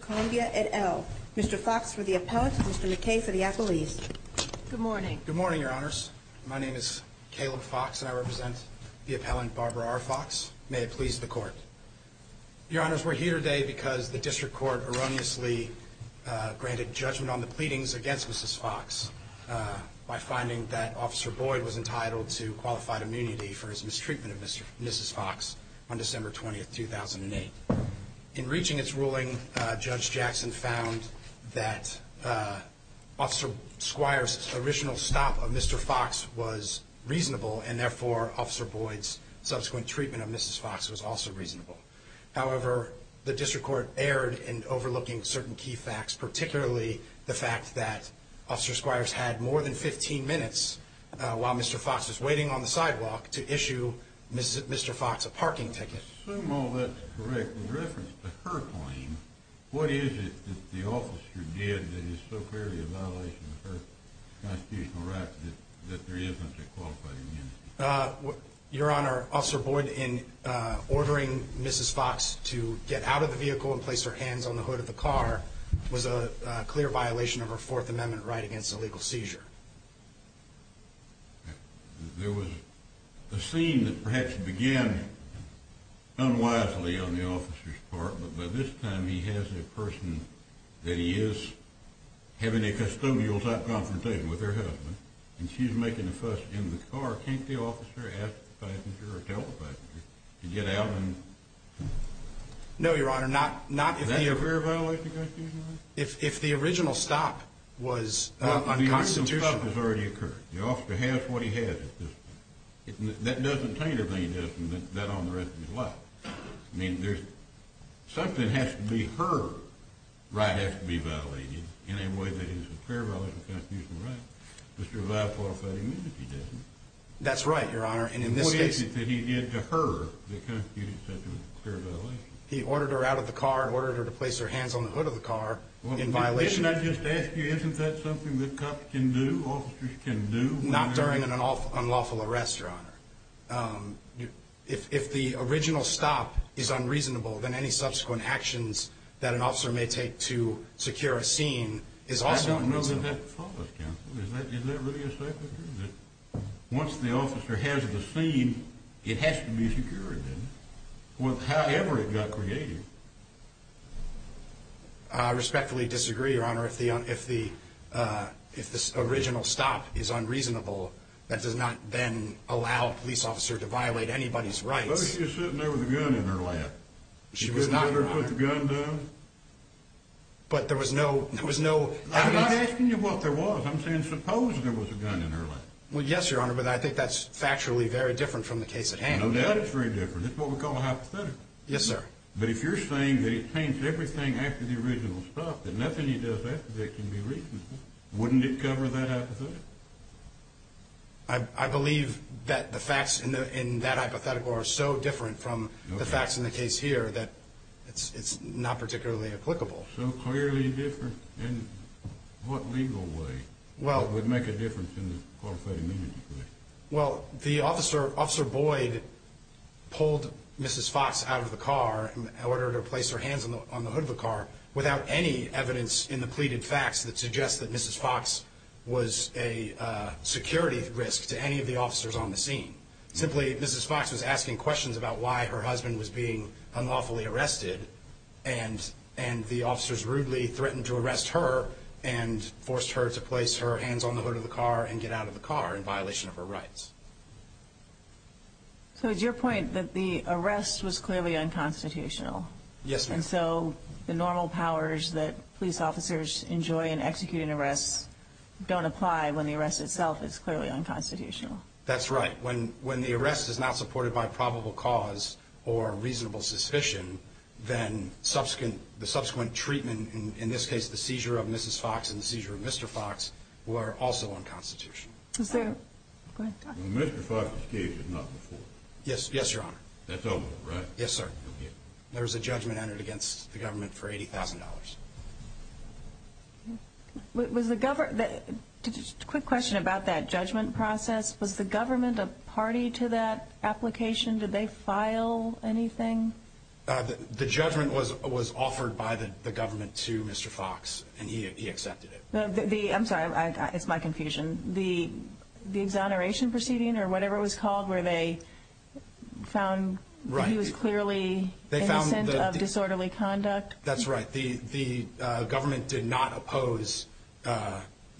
Columbia, et al. Mr. Fox for the appellant and Mr. McKay for the appellees. Good morning. Good morning, Your Honors. My name is Caleb Fox and I represent the appellant Barbara R. Fox. May it please the Court. Your Honors, we're here today because the District Court erroneously granted judgment on the pleadings against Mrs. Fox. We're here today by finding that Officer Boyd was entitled to qualified immunity for his mistreatment of Mrs. Fox on December 20th, 2008. In reaching its ruling, Judge Jackson found that Officer Squire's original stop of Mr. Fox was reasonable and therefore Officer Boyd's subsequent treatment of Mrs. Fox was also reasonable. However, the District Court erred in overlooking certain key facts, particularly the fact that Officer Squire's had more than 15 minutes while Mr. Fox was waiting on the sidewalk to issue Mr. Fox a parking ticket. I assume all that's correct in reference to her claim. What is it that the officer did that is so clearly a violation of her constitutional rights that there isn't a qualified immunity? Your Honor, Officer Boyd, in ordering Mrs. Fox to get out of the vehicle and place her hands on the hood of the car was a clear violation of her Fourth Amendment right against illegal seizure. There was a scene that perhaps began unwisely on the officer's part, but by this time he has a person that he is having a custodial-type confrontation with her husband, and she's making a fuss in the car. Can't the officer ask the passenger or tell the passenger to get out? No, Your Honor, not if the original stop was unconstitutional. The original stop has already occurred. The officer has what he has at this point. That doesn't taint her being different than that on the rest of his life. I mean, something has to be her right has to be violated in any way that is a clear violation of constitutional rights to survive That's right, Your Honor, and in this case... He ordered her out of the car, ordered her to place her hands on the hood of the car in violation... Not during an unlawful arrest, Your Honor. If the original stop is unreasonable, then any subsequent actions that an officer may take to secure a scene is also unreasonable. Once the officer has the scene, it has to be secured, then, however it got created. I respectfully disagree, Your Honor, if the original stop is unreasonable, that does not then allow a police officer to violate anybody's rights. But she was sitting there with a gun in her lap. She was not, Your Honor. She didn't let her put the gun down? But there was no... I'm not asking you what there was. I'm saying suppose there was a gun in her lap. Well, yes, Your Honor, but I think that's factually very different from the case at hand. No doubt it's very different. That's what we call a hypothetical. Yes, sir. But if you're saying that it taints everything after the original stop, that nothing he does after that can be reasonable, wouldn't it cover that hypothetical? I believe that the facts in that hypothetical are so different from the facts in the case here that it's not particularly applicable. So clearly different? In what legal way? Well... Would it make a difference in the qualified immunity case? Well, the officer, Officer Boyd, pulled Mrs. Fox out of the car in order to place her hands on the hood of the car without any evidence in the pleaded facts that suggests that Mrs. Fox was a security risk to any of the officers on the scene. Simply, Mrs. Fox was asking questions about why her husband was being unlawfully arrested and the officers rudely threatened to arrest her and forced her to place her hands on the hood of the car and get out of the car in violation of her rights. So it's your point that the arrest was clearly unconstitutional? Yes, ma'am. And so the normal powers that police officers enjoy in executing arrests don't apply when the arrest itself is clearly unconstitutional? That's right. When the arrest is not supported by probable cause or reasonable suspicion, then the subsequent treatment, in this case the seizure of Mrs. Fox and the seizure of Mr. Fox, were also unconstitutional. Is there... Go ahead. Mr. Fox's case was not before? Yes, Your Honor. That's over, right? Yes, sir. There was a judgment entered against the government for $80,000. Was the government... Just a quick question about that judgment process. Was the government a party to that application? Did they file anything? The judgment was offered by the government to Mr. Fox, and he accepted it. I'm sorry. It's my confusion. The exoneration proceeding or whatever it was called where they found that he was clearly innocent of disorderly conduct? That's right. The government did not oppose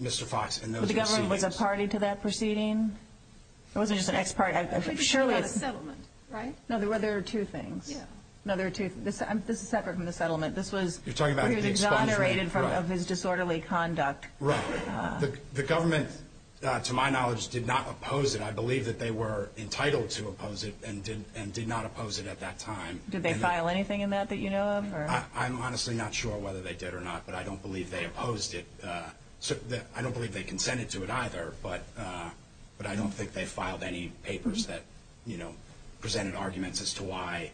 Mr. Fox and those proceedings. Was the government a party to that proceeding? It wasn't just an ex-party. I'm sure it was. It was a settlement, right? No, there were two things. Yeah. No, there were two. This is separate from the settlement. This was... You're talking about the expungement. He was exonerated of his disorderly conduct. Right. The government, to my knowledge, did not oppose it. I believe that they were entitled to oppose it and did not oppose it at that time. Did they file anything in that that you know of? I'm honestly not sure whether they did or not, but I don't believe they opposed it. I don't believe they consented to it either, but I don't think they filed any papers that, you know, presented arguments as to why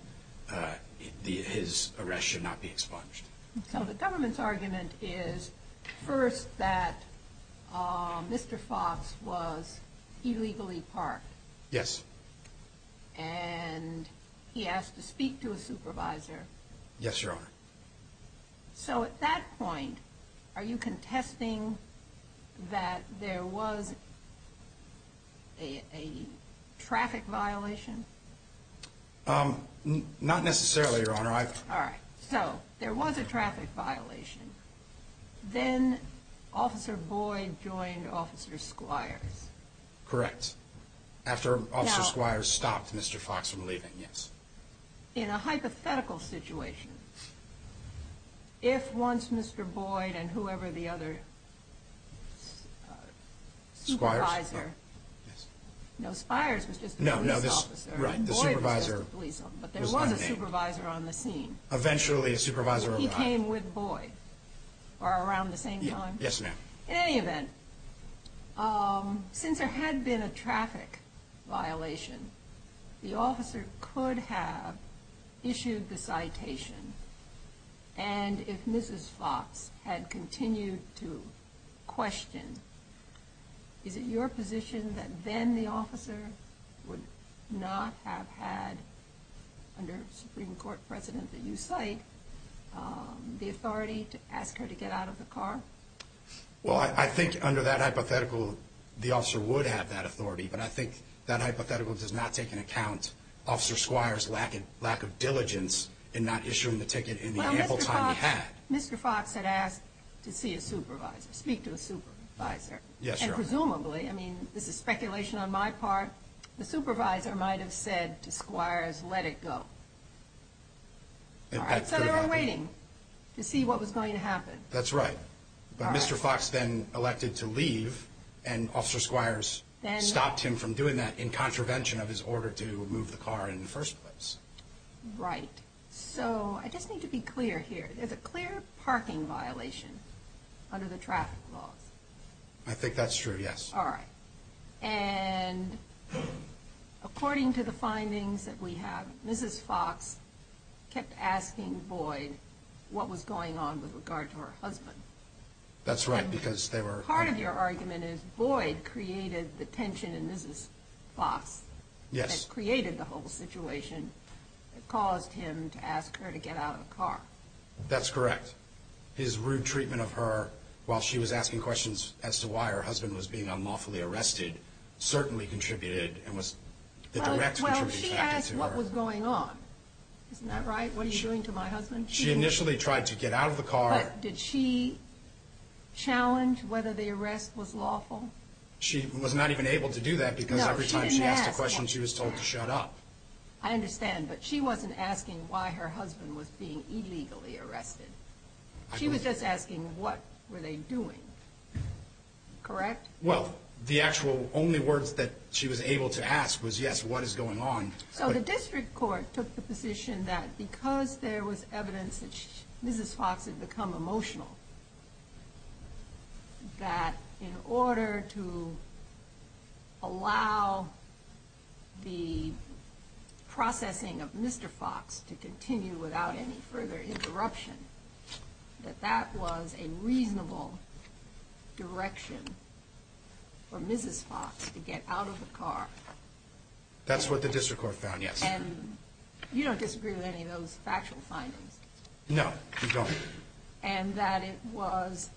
his arrest should not be expunged. So the government's argument is first that Mr. Fox was illegally parked. Yes. And he asked to speak to a supervisor. Yes, Your Honor. So at that point, are you contesting that there was a traffic violation? Not necessarily, Your Honor. All right. So there was a traffic violation. Then Officer Boyd joined Officer Squires. Correct. After Officer Squires stopped Mr. Fox from leaving, yes. In a hypothetical situation, if once Mr. Boyd and whoever the other supervisor. Squires? No, Squires was just a police officer. Right, the supervisor. Boyd was just a police officer, but there was a supervisor on the scene. Eventually a supervisor arrived. He came with Boyd, or around the same time? Yes, ma'am. In any event, since there had been a traffic violation, the officer could have issued the citation. And if Mrs. Fox had continued to question, is it your position that then the officer would not have had, under a Supreme Court precedent that you cite, the authority to ask her to get out of the car? Well, I think under that hypothetical, the officer would have that authority. But I think that hypothetical does not take into account Officer Squires' lack of diligence in not issuing the ticket in the ample time he had. Well, Mr. Fox had asked to see a supervisor, speak to a supervisor. Yes, Your Honor. Presumably, I mean, this is speculation on my part, the supervisor might have said to Squires, let it go. All right, so they were waiting to see what was going to happen. That's right. But Mr. Fox then elected to leave, and Officer Squires stopped him from doing that, in contravention of his order to move the car in the first place. Right. So, I just need to be clear here. There's a clear parking violation under the traffic laws. I think that's true, yes. All right. And according to the findings that we have, Mrs. Fox kept asking Boyd what was going on with regard to her husband. That's right, because they were... Part of your argument is Boyd created the tension in Mrs. Fox. Yes. That created the whole situation that caused him to ask her to get out of the car. That's correct. His rude treatment of her while she was asking questions as to why her husband was being unlawfully arrested certainly contributed and was... Well, she asked what was going on. Isn't that right? What are you doing to my husband? She initially tried to get out of the car. But did she challenge whether the arrest was lawful? She was not even able to do that because every time she asked a question, she was told to shut up. I understand, but she wasn't asking why her husband was being illegally arrested. She was just asking what were they doing. Correct? Well, the actual only words that she was able to ask was, yes, what is going on? So the district court took the position that because there was evidence that Mrs. Fox had become emotional, that in order to allow the processing of Mr. Fox to continue without any further interruption, that that was a reasonable direction for Mrs. Fox to get out of the car. That's what the district court found, yes. And you don't disagree with any of those factual findings? No, we don't. And that it was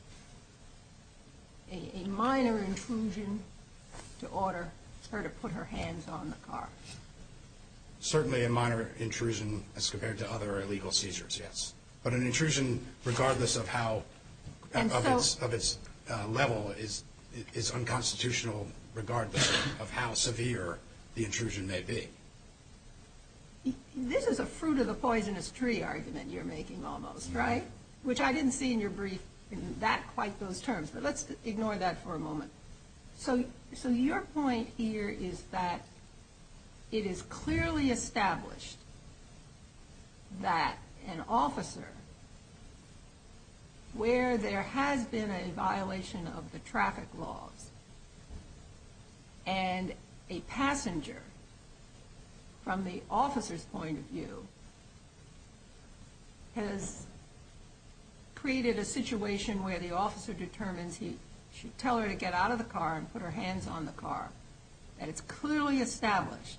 a minor intrusion to order her to put her hands on the car? Certainly a minor intrusion as compared to other illegal seizures, yes. But an intrusion, regardless of its level, is unconstitutional regardless of how severe the intrusion may be. This is a fruit of the poisonous tree argument you're making almost, right? Which I didn't see in your brief in quite those terms, but let's ignore that for a moment. So your point here is that it is clearly established that an officer, where there has been a violation of the traffic laws, and a passenger, from the officer's point of view, has created a situation where the officer determines he should tell her to get out of the car and put her hands on the car. And it's clearly established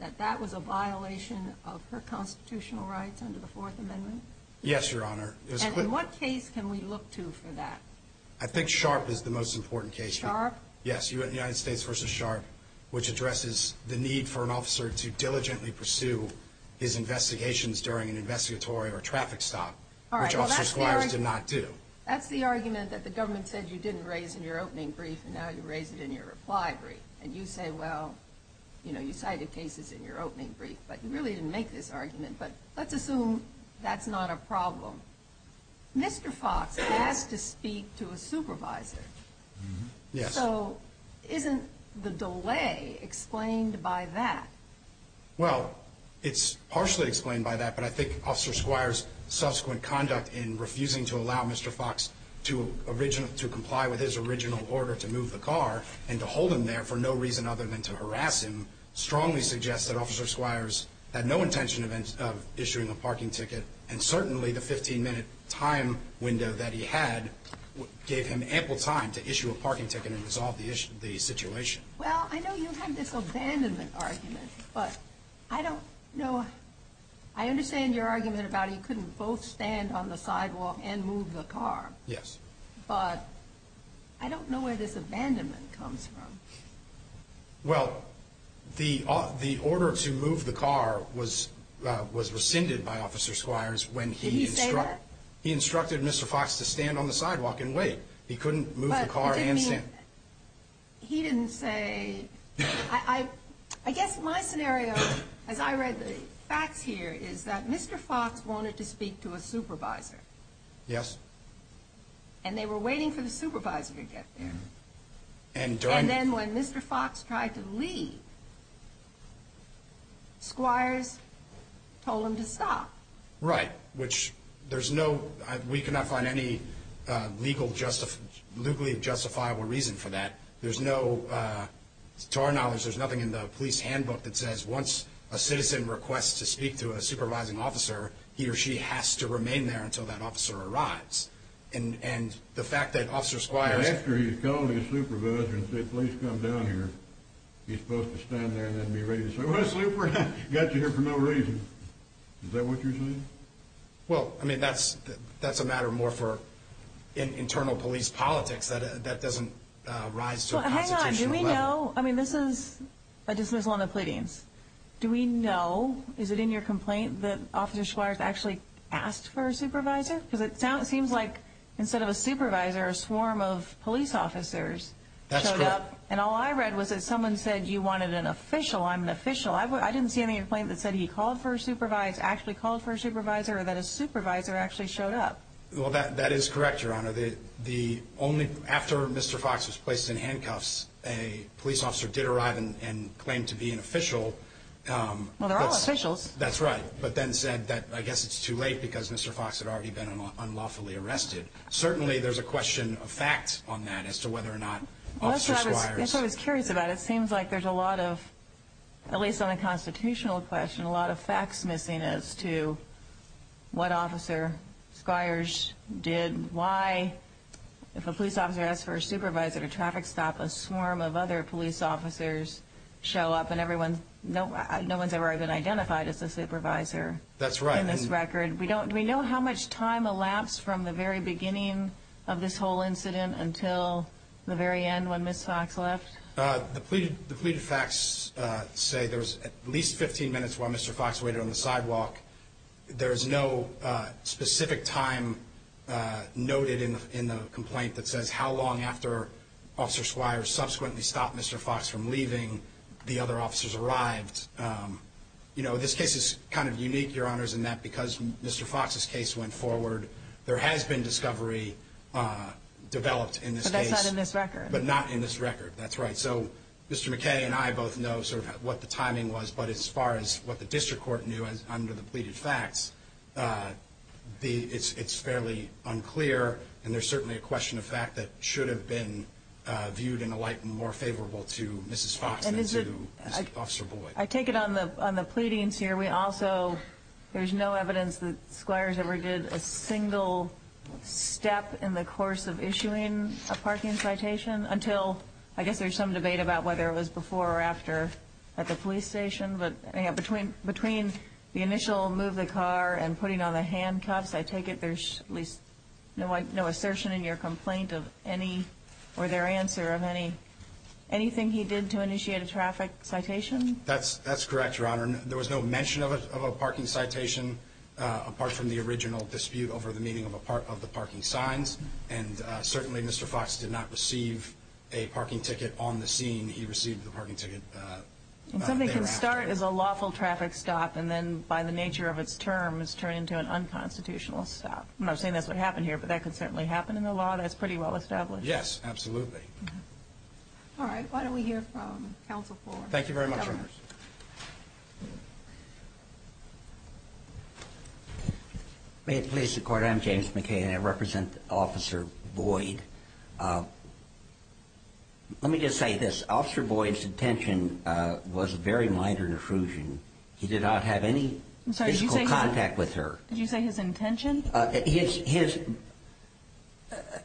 that that was a violation of her constitutional rights under the Fourth Amendment? Yes, Your Honor. And in what case can we look to for that? I think Sharpe is the most important case. Sharpe? Yes, United States v. Sharpe, which addresses the need for an officer to diligently pursue his investigations during an investigatory or traffic stop, which officer squires did not do. That's the argument that the government said you didn't raise in your opening brief, and now you raise it in your reply brief. And you say, well, you cited cases in your opening brief, but you really didn't make this argument. But let's assume that's not a problem. Mr. Fox asked to speak to a supervisor. Yes. So isn't the delay explained by that? Well, it's partially explained by that, but I think Officer Squires' subsequent conduct in refusing to allow Mr. Fox to comply with his original order to move the car and to hold him there for no reason other than to harass him strongly suggests that Officer Squires had no intention of issuing a parking ticket, and certainly the 15-minute time window that he had gave him ample time to issue a parking ticket and resolve the situation. Well, I know you have this abandonment argument, but I don't know. I understand your argument about he couldn't both stand on the sidewalk and move the car. Yes. But I don't know where this abandonment comes from. Well, the order to move the car was rescinded by Officer Squires when he instructed Mr. Fox to stand on the sidewalk and wait. He couldn't move the car and stand. He didn't say. I guess my scenario, as I read the facts here, is that Mr. Fox wanted to speak to a supervisor. Yes. And they were waiting for the supervisor to get there. And then when Mr. Fox tried to leave, Squires told him to stop. Right, which there's no – we cannot find any legally justifiable reason for that. There's no – to our knowledge, there's nothing in the police handbook that says once a citizen requests to speak to a supervising officer, he or she has to remain there until that officer arrives. And the fact that Officer Squires – Well, I mean, that's a matter more for internal police politics. That doesn't rise to a constitutional level. Hang on. Do we know – I mean, this is a dismissal on the pleadings. Do we know – is it in your complaint that Officer Squires actually asked for a supervisor? Because it seems like instead of a supervisor, a swarm of police officers showed up. That's correct. And all I read was that someone said you wanted an official. I'm an official. I didn't see any complaint that said he called for a supervisor, actually called for a supervisor, or that a supervisor actually showed up. Well, that is correct, Your Honor. The only – after Mr. Fox was placed in handcuffs, a police officer did arrive and claimed to be an official. Well, they're all officials. That's right, but then said that I guess it's too late because Mr. Fox had already been unlawfully arrested. Certainly there's a question of facts on that as to whether or not Officer Squires – That's what I was curious about. It seems like there's a lot of – at least on a constitutional question, a lot of facts missing as to what Officer Squires did, why. If a police officer asks for a supervisor at a traffic stop, a swarm of other police officers show up, and no one's ever even identified as a supervisor in this record. That's right. Do we know how much time elapsed from the very beginning of this whole incident until the very end when Ms. Fox left? The pleaded facts say there was at least 15 minutes while Mr. Fox waited on the sidewalk. There is no specific time noted in the complaint that says how long after Officer Squires subsequently stopped Mr. Fox from leaving, the other officers arrived. You know, this case is kind of unique, Your Honors, in that because Mr. Fox's case went forward, there has been discovery developed in this case. But that's not in this record. But not in this record. That's right. So Mr. McKay and I both know sort of what the timing was. But as far as what the district court knew under the pleaded facts, it's fairly unclear, and there's certainly a question of fact that should have been viewed in a light more favorable to Mrs. Fox than to Officer Boyd. I take it on the pleadings here, we also – there's no evidence that Squires ever did a single step in the course of issuing a parking citation until – I guess there's some debate about whether it was before or after at the police station. But, you know, between the initial move of the car and putting on the handcuffs, I take it there's at least no assertion in your complaint of any – or their answer of any – anything he did to initiate a traffic citation? That's correct, Your Honor. There was no mention of a parking citation apart from the original dispute over the meaning of the parking signs. And certainly Mr. Fox did not receive a parking ticket on the scene. He received the parking ticket later after. And something can start as a lawful traffic stop and then, by the nature of its term, it's turned into an unconstitutional stop. I'm not saying that's what happened here, but that could certainly happen in the law. That's pretty well established. Yes, absolutely. All right. Thank you very much, Your Honor. May it please the Court. I'm James McKay and I represent Officer Boyd. Let me just say this. Officer Boyd's intention was a very minor intrusion. He did not have any physical contact with her. I'm sorry. Did you say his intention? His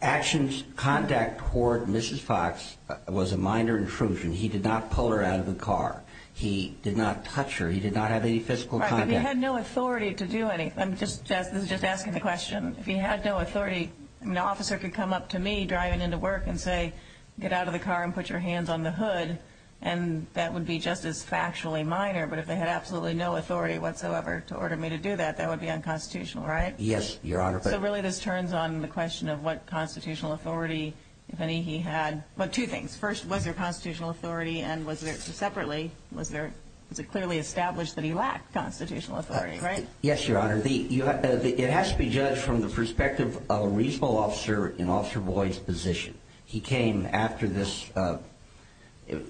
actions, contact toward Mrs. Fox was a minor intrusion. He did not pull her out of the car. He did not touch her. He did not have any physical contact. Right, but he had no authority to do anything. I'm just asking the question. If he had no authority, an officer could come up to me driving into work and say, get out of the car and put your hands on the hood. And that would be just as factually minor. But if they had absolutely no authority whatsoever to order me to do that, that would be unconstitutional, right? Yes, Your Honor. So really this turns on the question of what constitutional authority, if any, he had. Well, two things. First, was there constitutional authority and was there separately, was it clearly established that he lacked constitutional authority, right? Yes, Your Honor. It has to be judged from the perspective of a reasonable officer in Officer Boyd's position. He came after this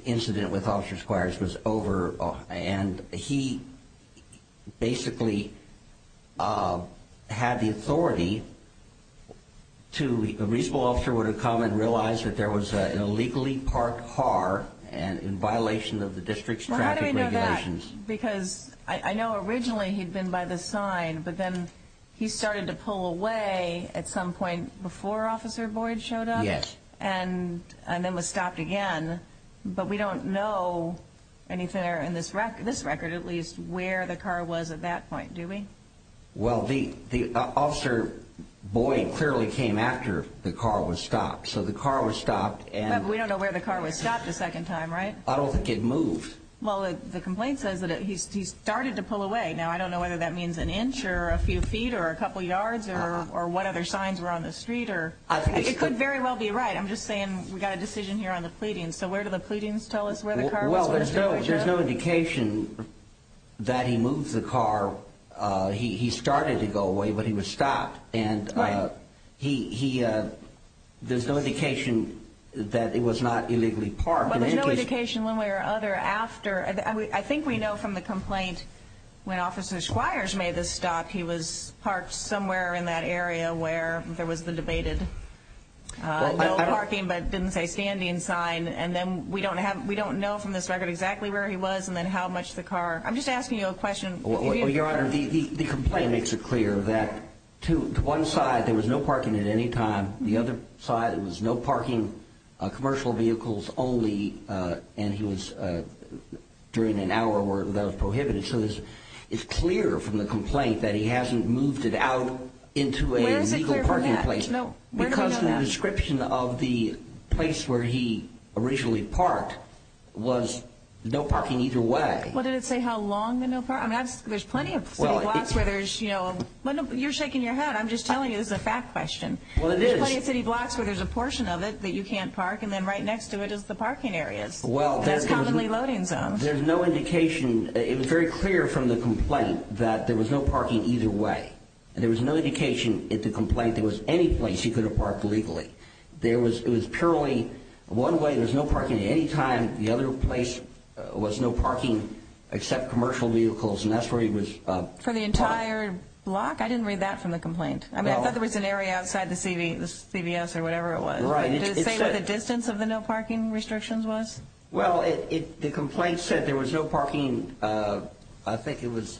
incident with Officer Squires was over, and he basically had the authority to, a reasonable officer would have come and realized that there was an illegally parked car in violation of the district's traffic regulations. Well, how do we know that? Because I know originally he'd been by the sign, but then he started to pull away at some point before Officer Boyd showed up? Yes. And then was stopped again. But we don't know anything in this record, at least, where the car was at that point, do we? Well, Officer Boyd clearly came after the car was stopped. So the car was stopped. But we don't know where the car was stopped the second time, right? I don't think it moved. Well, the complaint says that he started to pull away. Now, I don't know whether that means an inch or a few feet or a couple yards or what other signs were on the street. It could very well be right. I'm just saying we've got a decision here on the pleadings. So where do the pleadings tell us where the car was? Well, there's no indication that he moved the car. He started to go away, but he was stopped. And there's no indication that it was not illegally parked. Well, there's no indication one way or another after. I think we know from the complaint when Officer Squires made the stop he was parked somewhere in that area where there was the debated no parking but didn't say standing sign. And then we don't know from this record exactly where he was and then how much the car. I'm just asking you a question. Your Honor, the complaint makes it clear that to one side there was no parking at any time. The other side there was no parking, commercial vehicles only, and he was during an hour where that was prohibited. So it's clear from the complaint that he hasn't moved it out into a legal parking place. Where is it clear from that? Because the description of the place where he originally parked was no parking either way. Well, did it say how long the no parking? I mean, there's plenty of city blocks where there's, you know, you're shaking your head. I'm just telling you this is a fact question. Well, it is. There's plenty of city blocks where there's a portion of it that you can't park, and then right next to it is the parking areas. Well, that's the one. That's commonly loading zones. There's no indication. It was very clear from the complaint that there was no parking either way. There was no indication at the complaint there was any place he could have parked legally. There was, it was purely one way, there was no parking at any time. The other place was no parking except commercial vehicles, and that's where he was parked. For the entire block? I didn't read that from the complaint. I mean, I thought there was an area outside the CVS or whatever it was. Right. Did it say what the distance of the no parking restrictions was? Well, the complaint said there was no parking, I think it was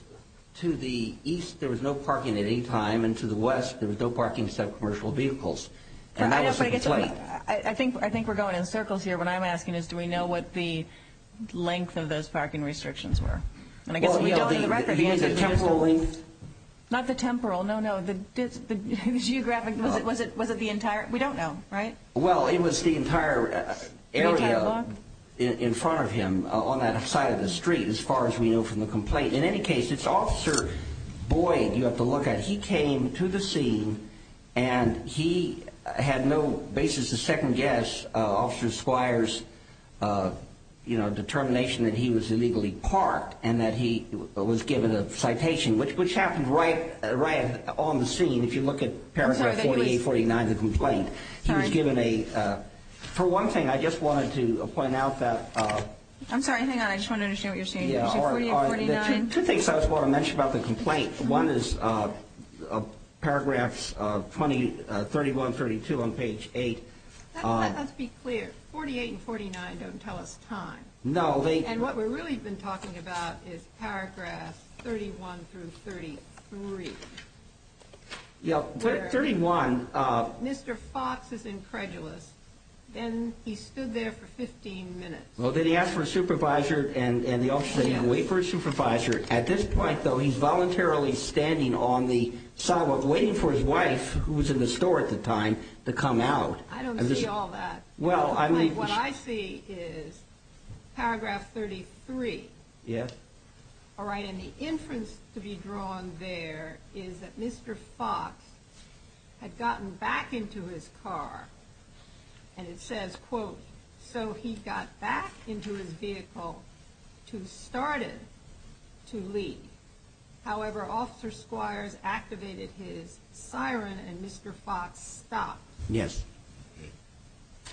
to the east there was no parking at any time, and to the west there was no parking except commercial vehicles. And that was the complaint. I think we're going in circles here. What I'm asking is do we know what the length of those parking restrictions were? And I guess we don't on the record. You mean the temporal length? Not the temporal. No, no, the geographic. Was it the entire? We don't know, right? Well, it was the entire area in front of him on that side of the street as far as we know from the complaint. In any case, it's Officer Boyd you have to look at. He came to the scene, and he had no basis to second guess Officer Squire's determination that he was illegally parked and that he was given a citation, which happened right on the scene if you look at paragraph 48, 49 of the complaint. He was given a ‑‑ for one thing, I just wanted to point out that ‑‑ I'm sorry, hang on, I just want to understand what you're saying. Two things I just want to mention about the complaint. One is paragraphs 31, 32 on page 8. Let's be clear, 48 and 49 don't tell us time. No. And what we're really been talking about is paragraphs 31 through 33. Yeah, 31. Mr. Fox is incredulous, and he stood there for 15 minutes. Well, then he asked for a supervisor, and the officer said, yeah, wait for a supervisor. At this point, though, he's voluntarily standing on the sidewalk waiting for his wife, who was in the store at the time, to come out. I don't see all that. What I see is paragraph 33. Yes. All right, and the inference to be drawn there is that Mr. Fox had gotten back into his car, and it says, quote, so he got back into his vehicle to start it to leave. However, officer Squires activated his siren, and Mr. Fox stopped. Yes.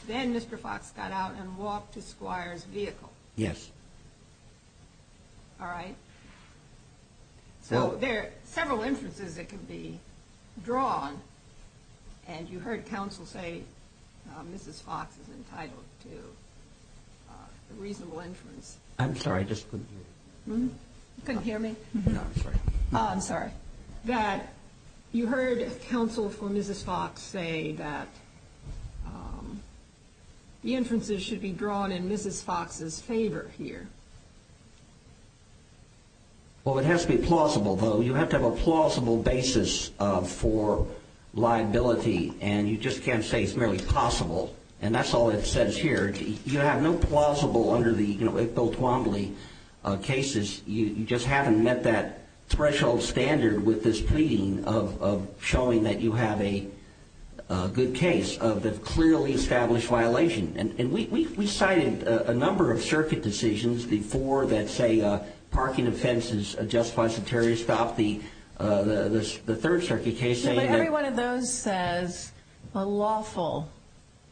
Then Mr. Fox got out and walked to Squires' vehicle. Yes. All right. So there are several inferences that can be drawn, and you heard counsel say Mrs. Fox is entitled to a reasonable inference. I'm sorry, I just couldn't hear you. You couldn't hear me? No, I'm sorry. I'm sorry. That you heard counsel for Mrs. Fox say that the inferences should be drawn in Mrs. Fox's favor here. Well, it has to be plausible, though. You have to have a plausible basis for liability, and you just can't say it's merely possible, and that's all it says here. You have no plausible under the Bill Twombly cases. You just haven't met that threshold standard with this pleading of showing that you have a good case of the clearly established violation. And we cited a number of circuit decisions before that say parking offenses justifies a terrorist stop. The third circuit case saying that… No, but every one of those says a lawful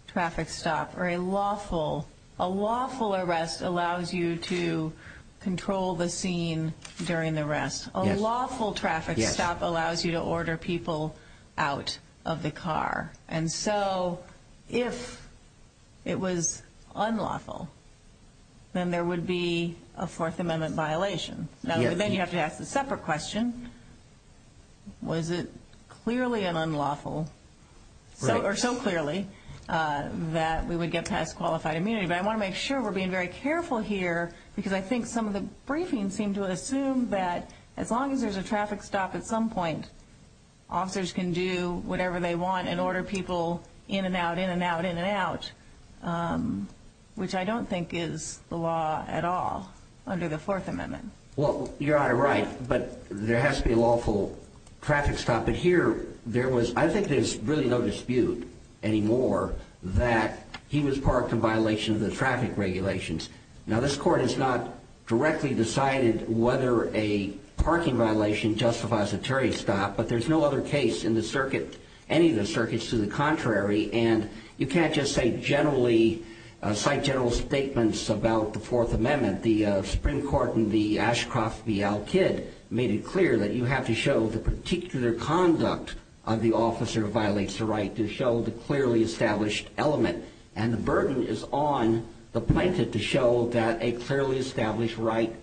traffic stop or a lawful arrest allows you to control the scene during the arrest. A lawful traffic stop allows you to order people out of the car. And so if it was unlawful, then there would be a Fourth Amendment violation. Now, then you have to ask the separate question, was it clearly unlawful or so clearly that we would get past qualified immunity? But I want to make sure we're being very careful here because I think some of the briefings seem to assume that as long as there's a traffic stop at some point, officers can do whatever they want and order people in and out, in and out, in and out, which I don't think is the law at all under the Fourth Amendment. Well, Your Honor, right, but there has to be a lawful traffic stop. But here there was – I think there's really no dispute anymore that he was parked in violation of the traffic regulations. Now, this Court has not directly decided whether a parking violation justifies a traffic stop, but there's no other case in the circuit, any of the circuits, to the contrary. And you can't just say generally – cite general statements about the Fourth Amendment. The Supreme Court in the Ashcroft v. Al-Kid made it clear that you have to show the particular conduct of the officer who violates the right to show the clearly established element. And the burden is on the plaintiff to show that a clearly established right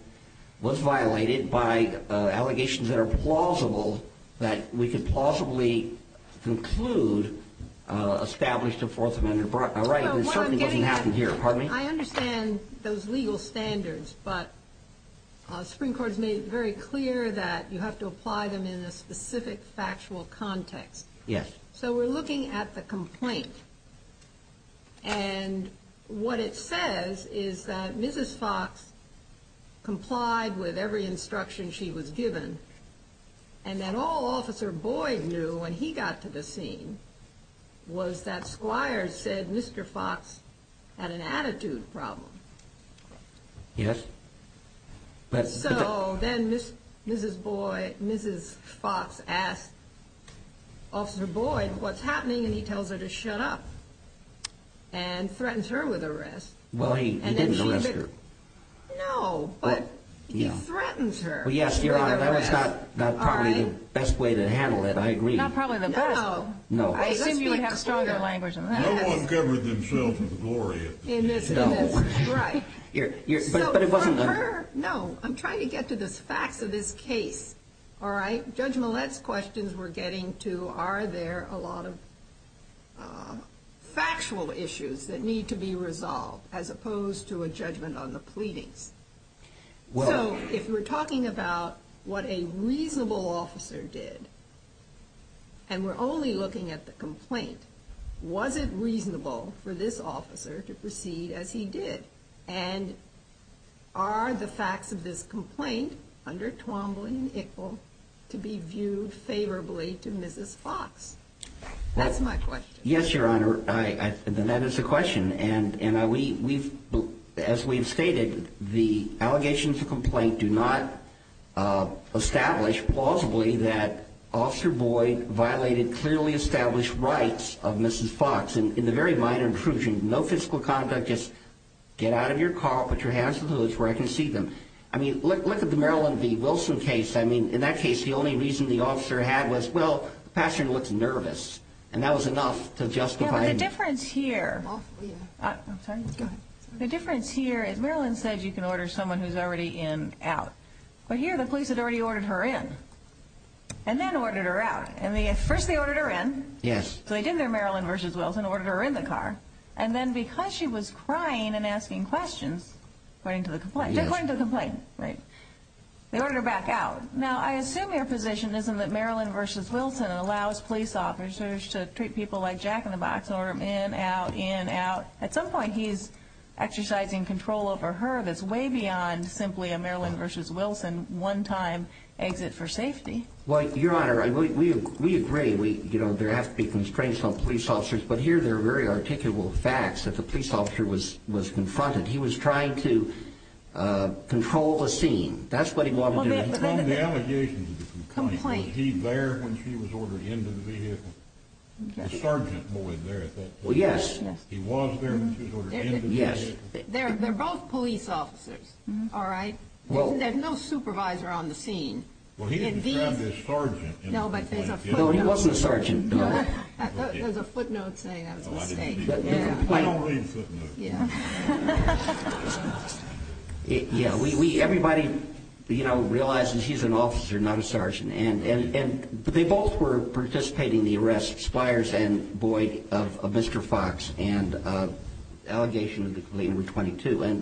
was violated by allegations that are plausible, that we could plausibly conclude established a Fourth Amendment right, and it certainly doesn't happen here. Pardon me? I understand those legal standards, but the Supreme Court has made it very clear that you have to apply them in a specific factual context. Yes. So we're looking at the complaint, and what it says is that Mrs. Fox complied with every instruction she was given, and that all Officer Boyd knew when he got to the scene was that Squires said Mr. Fox had an attitude problem. Yes. So then Mrs. Fox asked Officer Boyd what's happening, and he tells her to shut up and threatens her with arrest. Well, he didn't arrest her. No, but he threatens her. Yes, Your Honor, that was not probably the best way to handle it, I agree. Not probably the best? No. I assumed you would have stronger language on that. No one covered themselves with glory in this strike. No, I'm trying to get to the facts of this case, all right? Judge Millett's questions were getting to are there a lot of factual issues that need to be resolved as opposed to a judgment on the pleadings. So if we're talking about what a reasonable officer did, and we're only looking at the complaint, was it reasonable for this officer to proceed as he did? And are the facts of this complaint under Twombly and Ickle to be viewed favorably to Mrs. Fox? That's my question. Yes, Your Honor, that is the question. And as we've stated, the allegations of complaint do not establish plausibly that Officer Boyd violated clearly established rights of Mrs. Fox. In the very minor intrusion, no physical conduct, just get out of your car, put your hands in the hoods where I can see them. I mean, look at the Maryland v. Wilson case. I mean, in that case, the only reason the officer had was, well, the passenger looked nervous, and that was enough to justify it. Yeah, but the difference here is Maryland said you can order someone who's already in out. But here the police had already ordered her in and then ordered her out. First they ordered her in. Yes. So they did their Maryland v. Wilson, ordered her in the car. And then because she was crying and asking questions according to the complaint, they ordered her back out. Now, I assume your position isn't that Maryland v. Wilson allows police officers to treat people like jack-in-the-box and order them in, out, in, out. At some point he's exercising control over her that's way beyond simply a Maryland v. Wilson one-time exit for safety. Well, Your Honor, we agree there have to be constraints on police officers. But here there are very articulable facts that the police officer was confronted. He was trying to control the scene. That's what he wanted to do. From the allegations of the complaint, was he there when she was ordered into the vehicle? The sergeant was there at that point. Well, yes. He was there when she was ordered into the vehicle? Yes. They're both police officers, all right? There's no supervisor on the scene. Well, he described as sergeant. No, but there's a footnote. No, he wasn't a sergeant. There's a footnote saying that was a mistake. I don't read footnotes. Yeah. Yeah, everybody, you know, realizes he's an officer, not a sergeant. And they both were participating in the arrest, Spires and Boyd, of Mr. Fox and allegation of the complaint number 22. And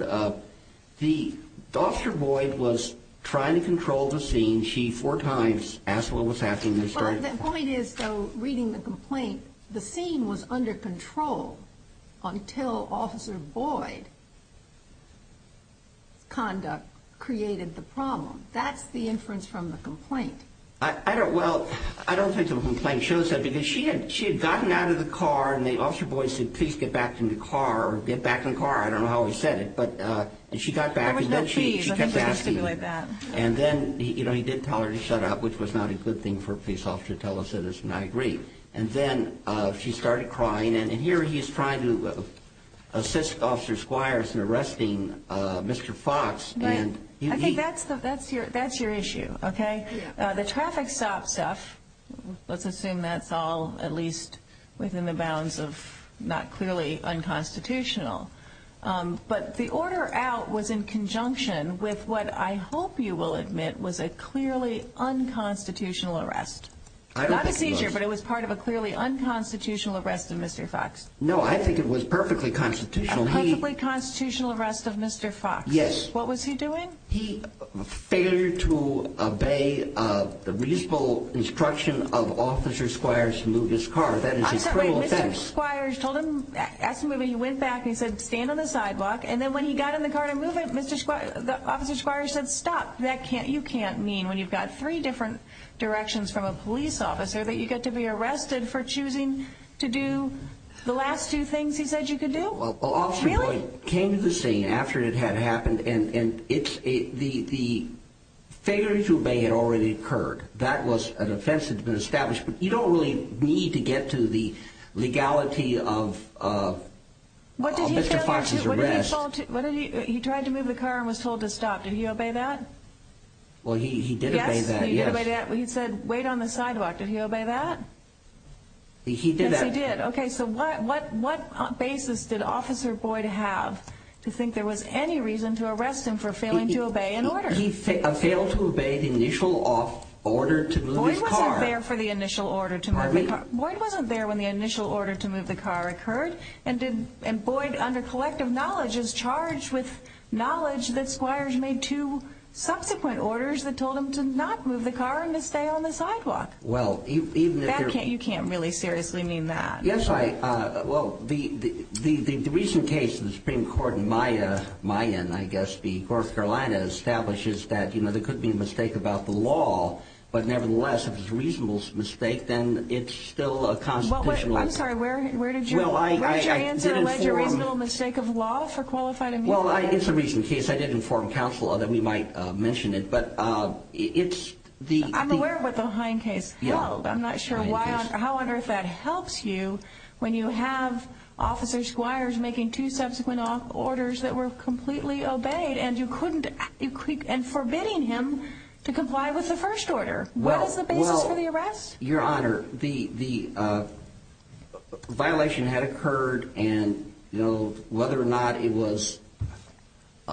the officer, Boyd, was trying to control the scene. She, four times, asked what was happening. Well, the point is, though, reading the complaint, the scene was under control until Officer Boyd's conduct created the problem. That's the inference from the complaint. Well, I don't think the complaint shows that because she had gotten out of the car and the officer, Boyd, said, please get back in the car or get back in the car. I don't know how he said it, but she got back. There was no keys. I'm just going to stipulate that. And then, you know, he did tell her to shut up, which was not a good thing for a police officer to tell a citizen. I agree. And then she started crying. And here he is trying to assist Officer Spires in arresting Mr. Fox. I think that's your issue, OK? The traffic stop stuff, let's assume that's all at least within the bounds of not clearly unconstitutional. But the order out was in conjunction with what I hope you will admit was a clearly unconstitutional arrest. Not a seizure, but it was part of a clearly unconstitutional arrest of Mr. Fox. No, I think it was perfectly constitutional. A perfectly constitutional arrest of Mr. Fox. Yes. What was he doing? He failed to obey the reasonable instruction of Officer Spires to move his car. That is a cruel offense. I'm sorry, Mr. Spires told him, asked him to move it. He went back and he said, stand on the sidewalk. And then when he got in the car to move it, Officer Spires said, stop. You can't mean when you've got three different directions from a police officer that you get to be arrested for choosing to do the last two things he said you could do? Well, Officer Boyd came to the scene after it had happened, and the failure to obey had already occurred. That was an offense that had been established. You don't really need to get to the legality of Mr. Fox's arrest. He tried to move the car and was told to stop. Did he obey that? Well, he did obey that, yes. He said, wait on the sidewalk. Did he obey that? He did. Yes, he did. Okay, so what basis did Officer Boyd have to think there was any reason to arrest him for failing to obey an order? He failed to obey the initial order to move his car. Boyd wasn't there for the initial order to move the car. Boyd wasn't there when the initial order to move the car occurred. And Boyd, under collective knowledge, is charged with knowledge that Spires made two subsequent orders that told him to not move the car and to stay on the sidewalk. You can't really seriously mean that. Yes, I – well, the recent case in the Supreme Court in Miami, I guess, North Carolina, establishes that there could be a mistake about the law. But nevertheless, if it's a reasonable mistake, then it's still a constitutional error. I'm sorry, where did your answer allege a reasonable mistake of law for qualified immunity? Well, it's a recent case. I did inform counsel that we might mention it. I'm aware of the Hine case. Well, I'm not sure why – I wonder if that helps you when you have Officer Spires making two subsequent orders that were completely obeyed and you couldn't – and forbidding him to comply with the first order. What is the basis for the arrest? Well, Your Honor, the violation had occurred and, you know, whether or not it was –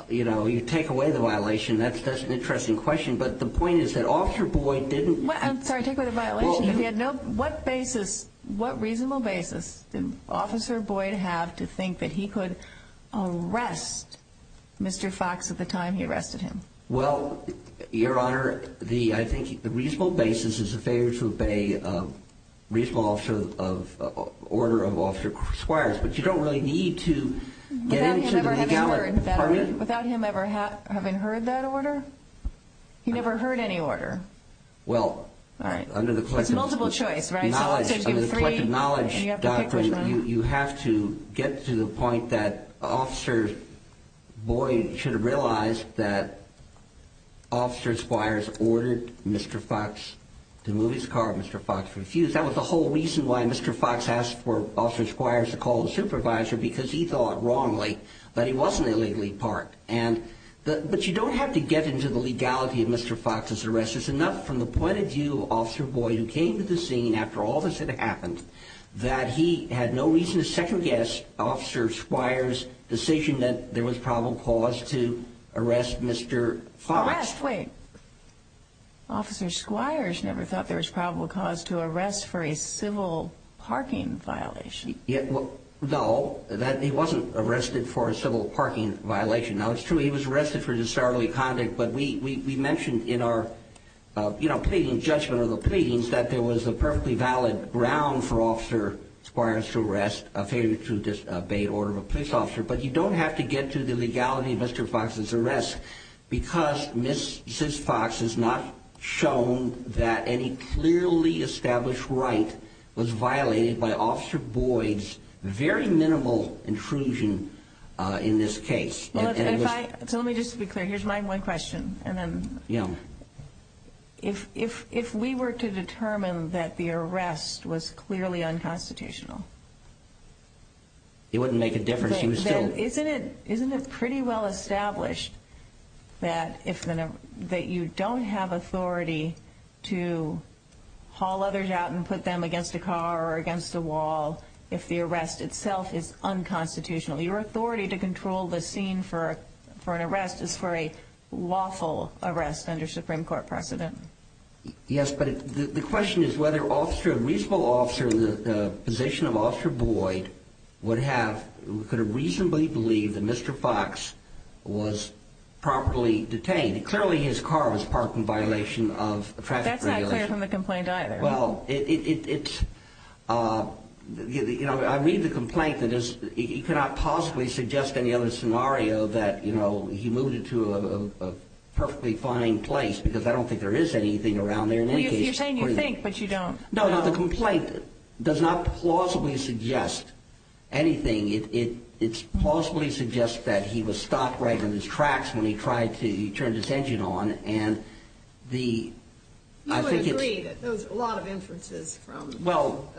you know, you take away the violation, that's an interesting question. But the point is that Officer Boyd didn't – I'm sorry, take away the violation. He had no – what basis – what reasonable basis did Officer Boyd have to think that he could arrest Mr. Foxx at the time he arrested him? Well, Your Honor, the – I think the reasonable basis is a failure to obey a reasonable order of Officer Spires. But you don't really need to get into the legality department. Without him ever having heard that order? He never heard any order? Well, under the collective knowledge doctrine, you have to get to the point that Officer Boyd should have realized that Officer Spires ordered Mr. Foxx to move his car. Mr. Foxx refused. That was the whole reason why Mr. Foxx asked for Officer Spires to call the supervisor, because he thought wrongly that he wasn't a legally part. And – but you don't have to get into the legality of Mr. Foxx's arrest. It's enough from the point of view of Officer Boyd, who came to the scene after all this had happened, that he had no reason to second-guess Officer Spires' decision that there was probable cause to arrest Mr. Foxx. Arrest? Wait. Officer Spires never thought there was probable cause to arrest for a civil parking violation. No, he wasn't arrested for a civil parking violation. Now, it's true he was arrested for disorderly conduct, but we mentioned in our, you know, pleading judgment of the pleadings that there was a perfectly valid ground for Officer Spires to arrest a failure to disobey order of a police officer. But you don't have to get to the legality of Mr. Foxx's arrest, because Ms. Foxx has not shown that any clearly established right was violated by Officer Boyd's very minimal intrusion in this case. Now, if I – so let me just be clear. Here's my one question, and then – Yeah. If we were to determine that the arrest was clearly unconstitutional – It wouldn't make a difference. He was still – Isn't it pretty well established that if – that you don't have authority to haul others out and put them against a car or against a wall if the arrest itself is unconstitutional? Your authority to control the scene for an arrest is for a lawful arrest under Supreme Court precedent. Yes, but the question is whether a reasonable officer in the position of Officer Boyd would have – could have reasonably believed that Mr. Foxx was properly detained. Clearly, his car was parked in violation of traffic regulations. That's not clear from the complaint either. Well, it's – you know, I read the complaint that it's – you cannot possibly suggest any other scenario that, you know, he moved it to a perfectly fine place, because I don't think there is anything around there in any case. Well, you're saying you think, but you don't. No, no, the complaint does not plausibly suggest anything. It – it – it plausibly suggests that he was stopped right in his tracks when he tried to – he turned his engine on, and the – I think it's – So you agree that there was a lot of inferences from the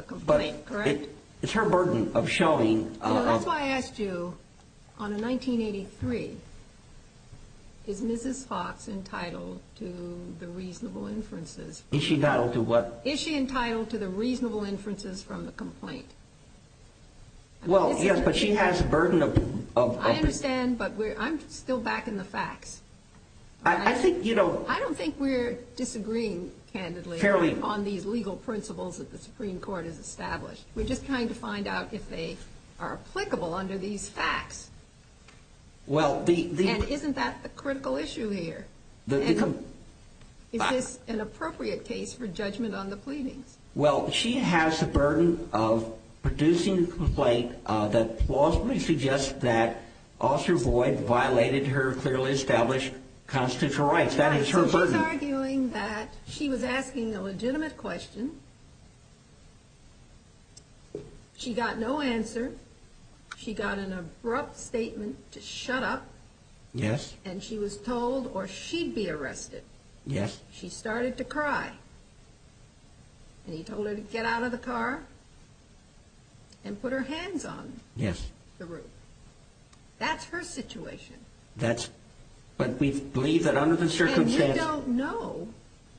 complaint, correct? Well, but it's her burden of showing – So that's why I asked you, on a 1983, is Mrs. Foxx entitled to the reasonable inferences? Is she entitled to what? Is she entitled to the reasonable inferences from the complaint? Well, yes, but she has a burden of – I understand, but we're – I'm still backing the facts, all right? I think, you know – I don't think we're disagreeing, candidly, on these legal principles that the Supreme Court has established. We're just trying to find out if they are applicable under these facts. Well, the – And isn't that the critical issue here? The – Is this an appropriate case for judgment on the pleadings? Well, she has the burden of producing a complaint that plausibly suggests that Officer Boyd violated her clearly established constitutional rights. That is her burden. Right, so she's arguing that she was asking a legitimate question. She got no answer. She got an abrupt statement to shut up. Yes. And she was told, or she'd be arrested. Yes. She started to cry. And he told her to get out of the car and put her hands on the roof. Yes. That's her situation. That's – but we believe that under the circumstances – And we don't know,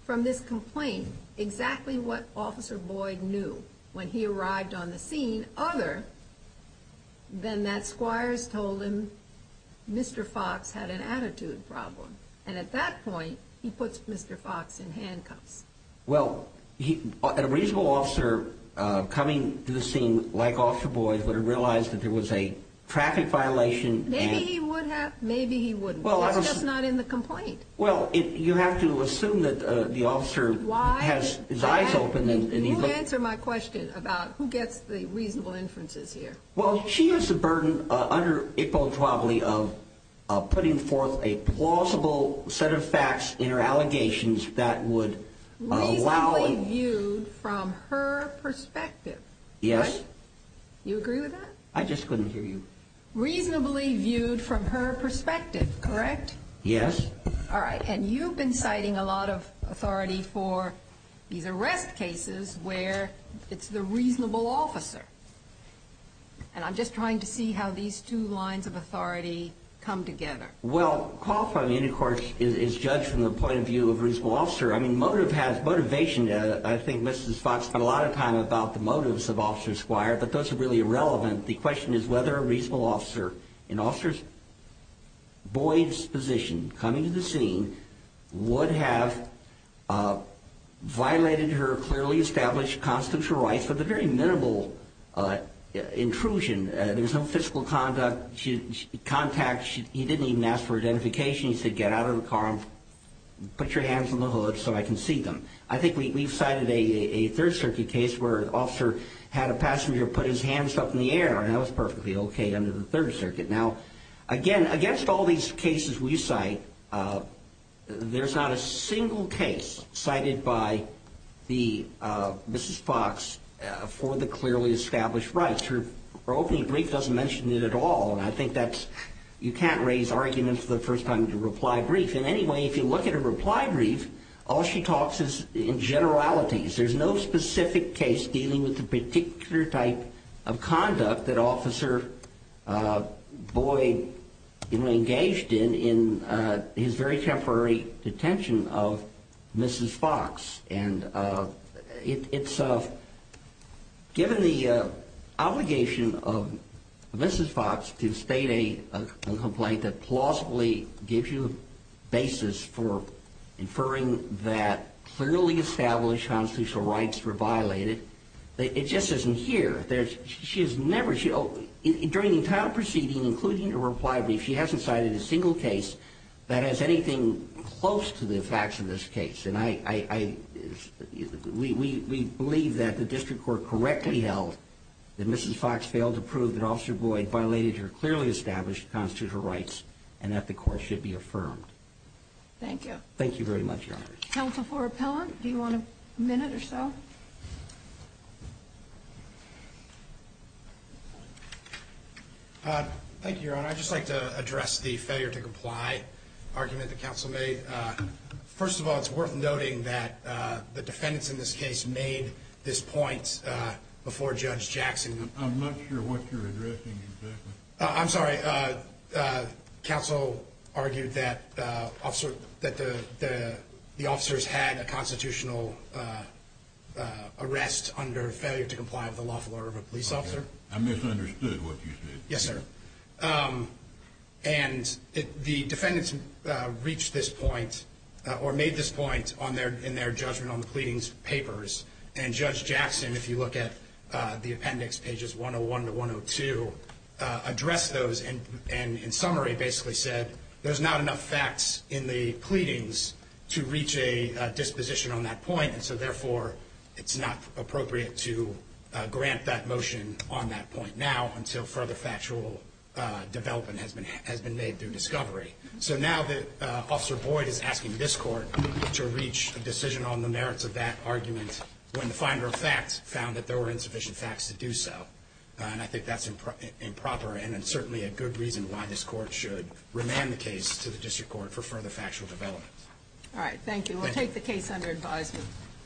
from this complaint, exactly what Officer Boyd knew when he arrived on the scene, other than that Squires told him Mr. Fox had an attitude problem. And at that point, he puts Mr. Fox in handcuffs. Well, a reasonable officer coming to the scene like Officer Boyd would have realized that there was a traffic violation and – Maybe he would have. Maybe he wouldn't. It's just not in the complaint. Well, you have to assume that the officer has his eyes open and he – You answer my question about who gets the reasonable inferences here. Well, she has the burden, under Iqbal Chowdhury, of putting forth a plausible set of facts in her allegations that would allow – Reasonably viewed from her perspective. Yes. You agree with that? I just couldn't hear you. Reasonably viewed from her perspective, correct? Yes. All right. And you've been citing a lot of authority for these arrest cases where it's the reasonable officer. And I'm just trying to see how these two lines of authority come together. Well, qualifying the intercourse is judged from the point of view of a reasonable officer. I mean, motive has motivation. I think Mrs. Fox spent a lot of time about the motives of Officer Squire, but those are really irrelevant. The question is whether a reasonable officer in Officer Boyd's position coming to the scene would have violated her clearly established constitutional rights with a very minimal intrusion. There was no physical contact. He didn't even ask for identification. He said, get out of the car and put your hands on the hood so I can see them. I think we've cited a Third Circuit case where an officer had a passenger put his hands up in the air, and that was perfectly okay under the Third Circuit. Now, again, against all these cases we cite, there's not a single case cited by Mrs. Fox for the clearly established rights. Her opening brief doesn't mention it at all, and I think you can't raise arguments for the first time with a reply brief. In any way, if you look at a reply brief, all she talks is in generalities. There's no specific case dealing with the particular type of conduct that Officer Boyd engaged in in his very temporary detention of Mrs. Fox. It's given the obligation of Mrs. Fox to state a complaint that plausibly gives you a basis for inferring that clearly established constitutional rights were violated. It just isn't here. During the entire proceeding, including the reply brief, she hasn't cited a single case that has anything close to the facts of this case. We believe that the District Court correctly held that Mrs. Fox failed to prove that Officer Boyd violated her clearly established constitutional rights, and that the court should be affirmed. Thank you. Thank you very much, Your Honor. Counsel for Appellant, do you want a minute or so? Thank you, Your Honor. I'd just like to address the failure to comply argument that Counsel made. First of all, it's worth noting that the defendants in this case made this point before Judge Jackson. I'm not sure what you're addressing exactly. I'm sorry. Counsel argued that the officers had a constitutional arrest under failure to comply with the lawful order of a police officer. I misunderstood what you said. Yes, sir. And the defendants reached this point or made this point in their judgment on the pleadings papers, and Judge Jackson, if you look at the appendix, pages 101 to 102, addressed those and in summary basically said there's not enough facts in the pleadings to reach a disposition on that point, and so therefore it's not appropriate to grant that motion on that point now until further factual development has been made through discovery. So now that Officer Boyd is asking this court to reach a decision on the merits of that argument when the finder of facts found that there were insufficient facts to do so, and I think that's improper and certainly a good reason why this court should remand the case to the district court for further factual development. All right. Thank you. We'll take the case under advisement.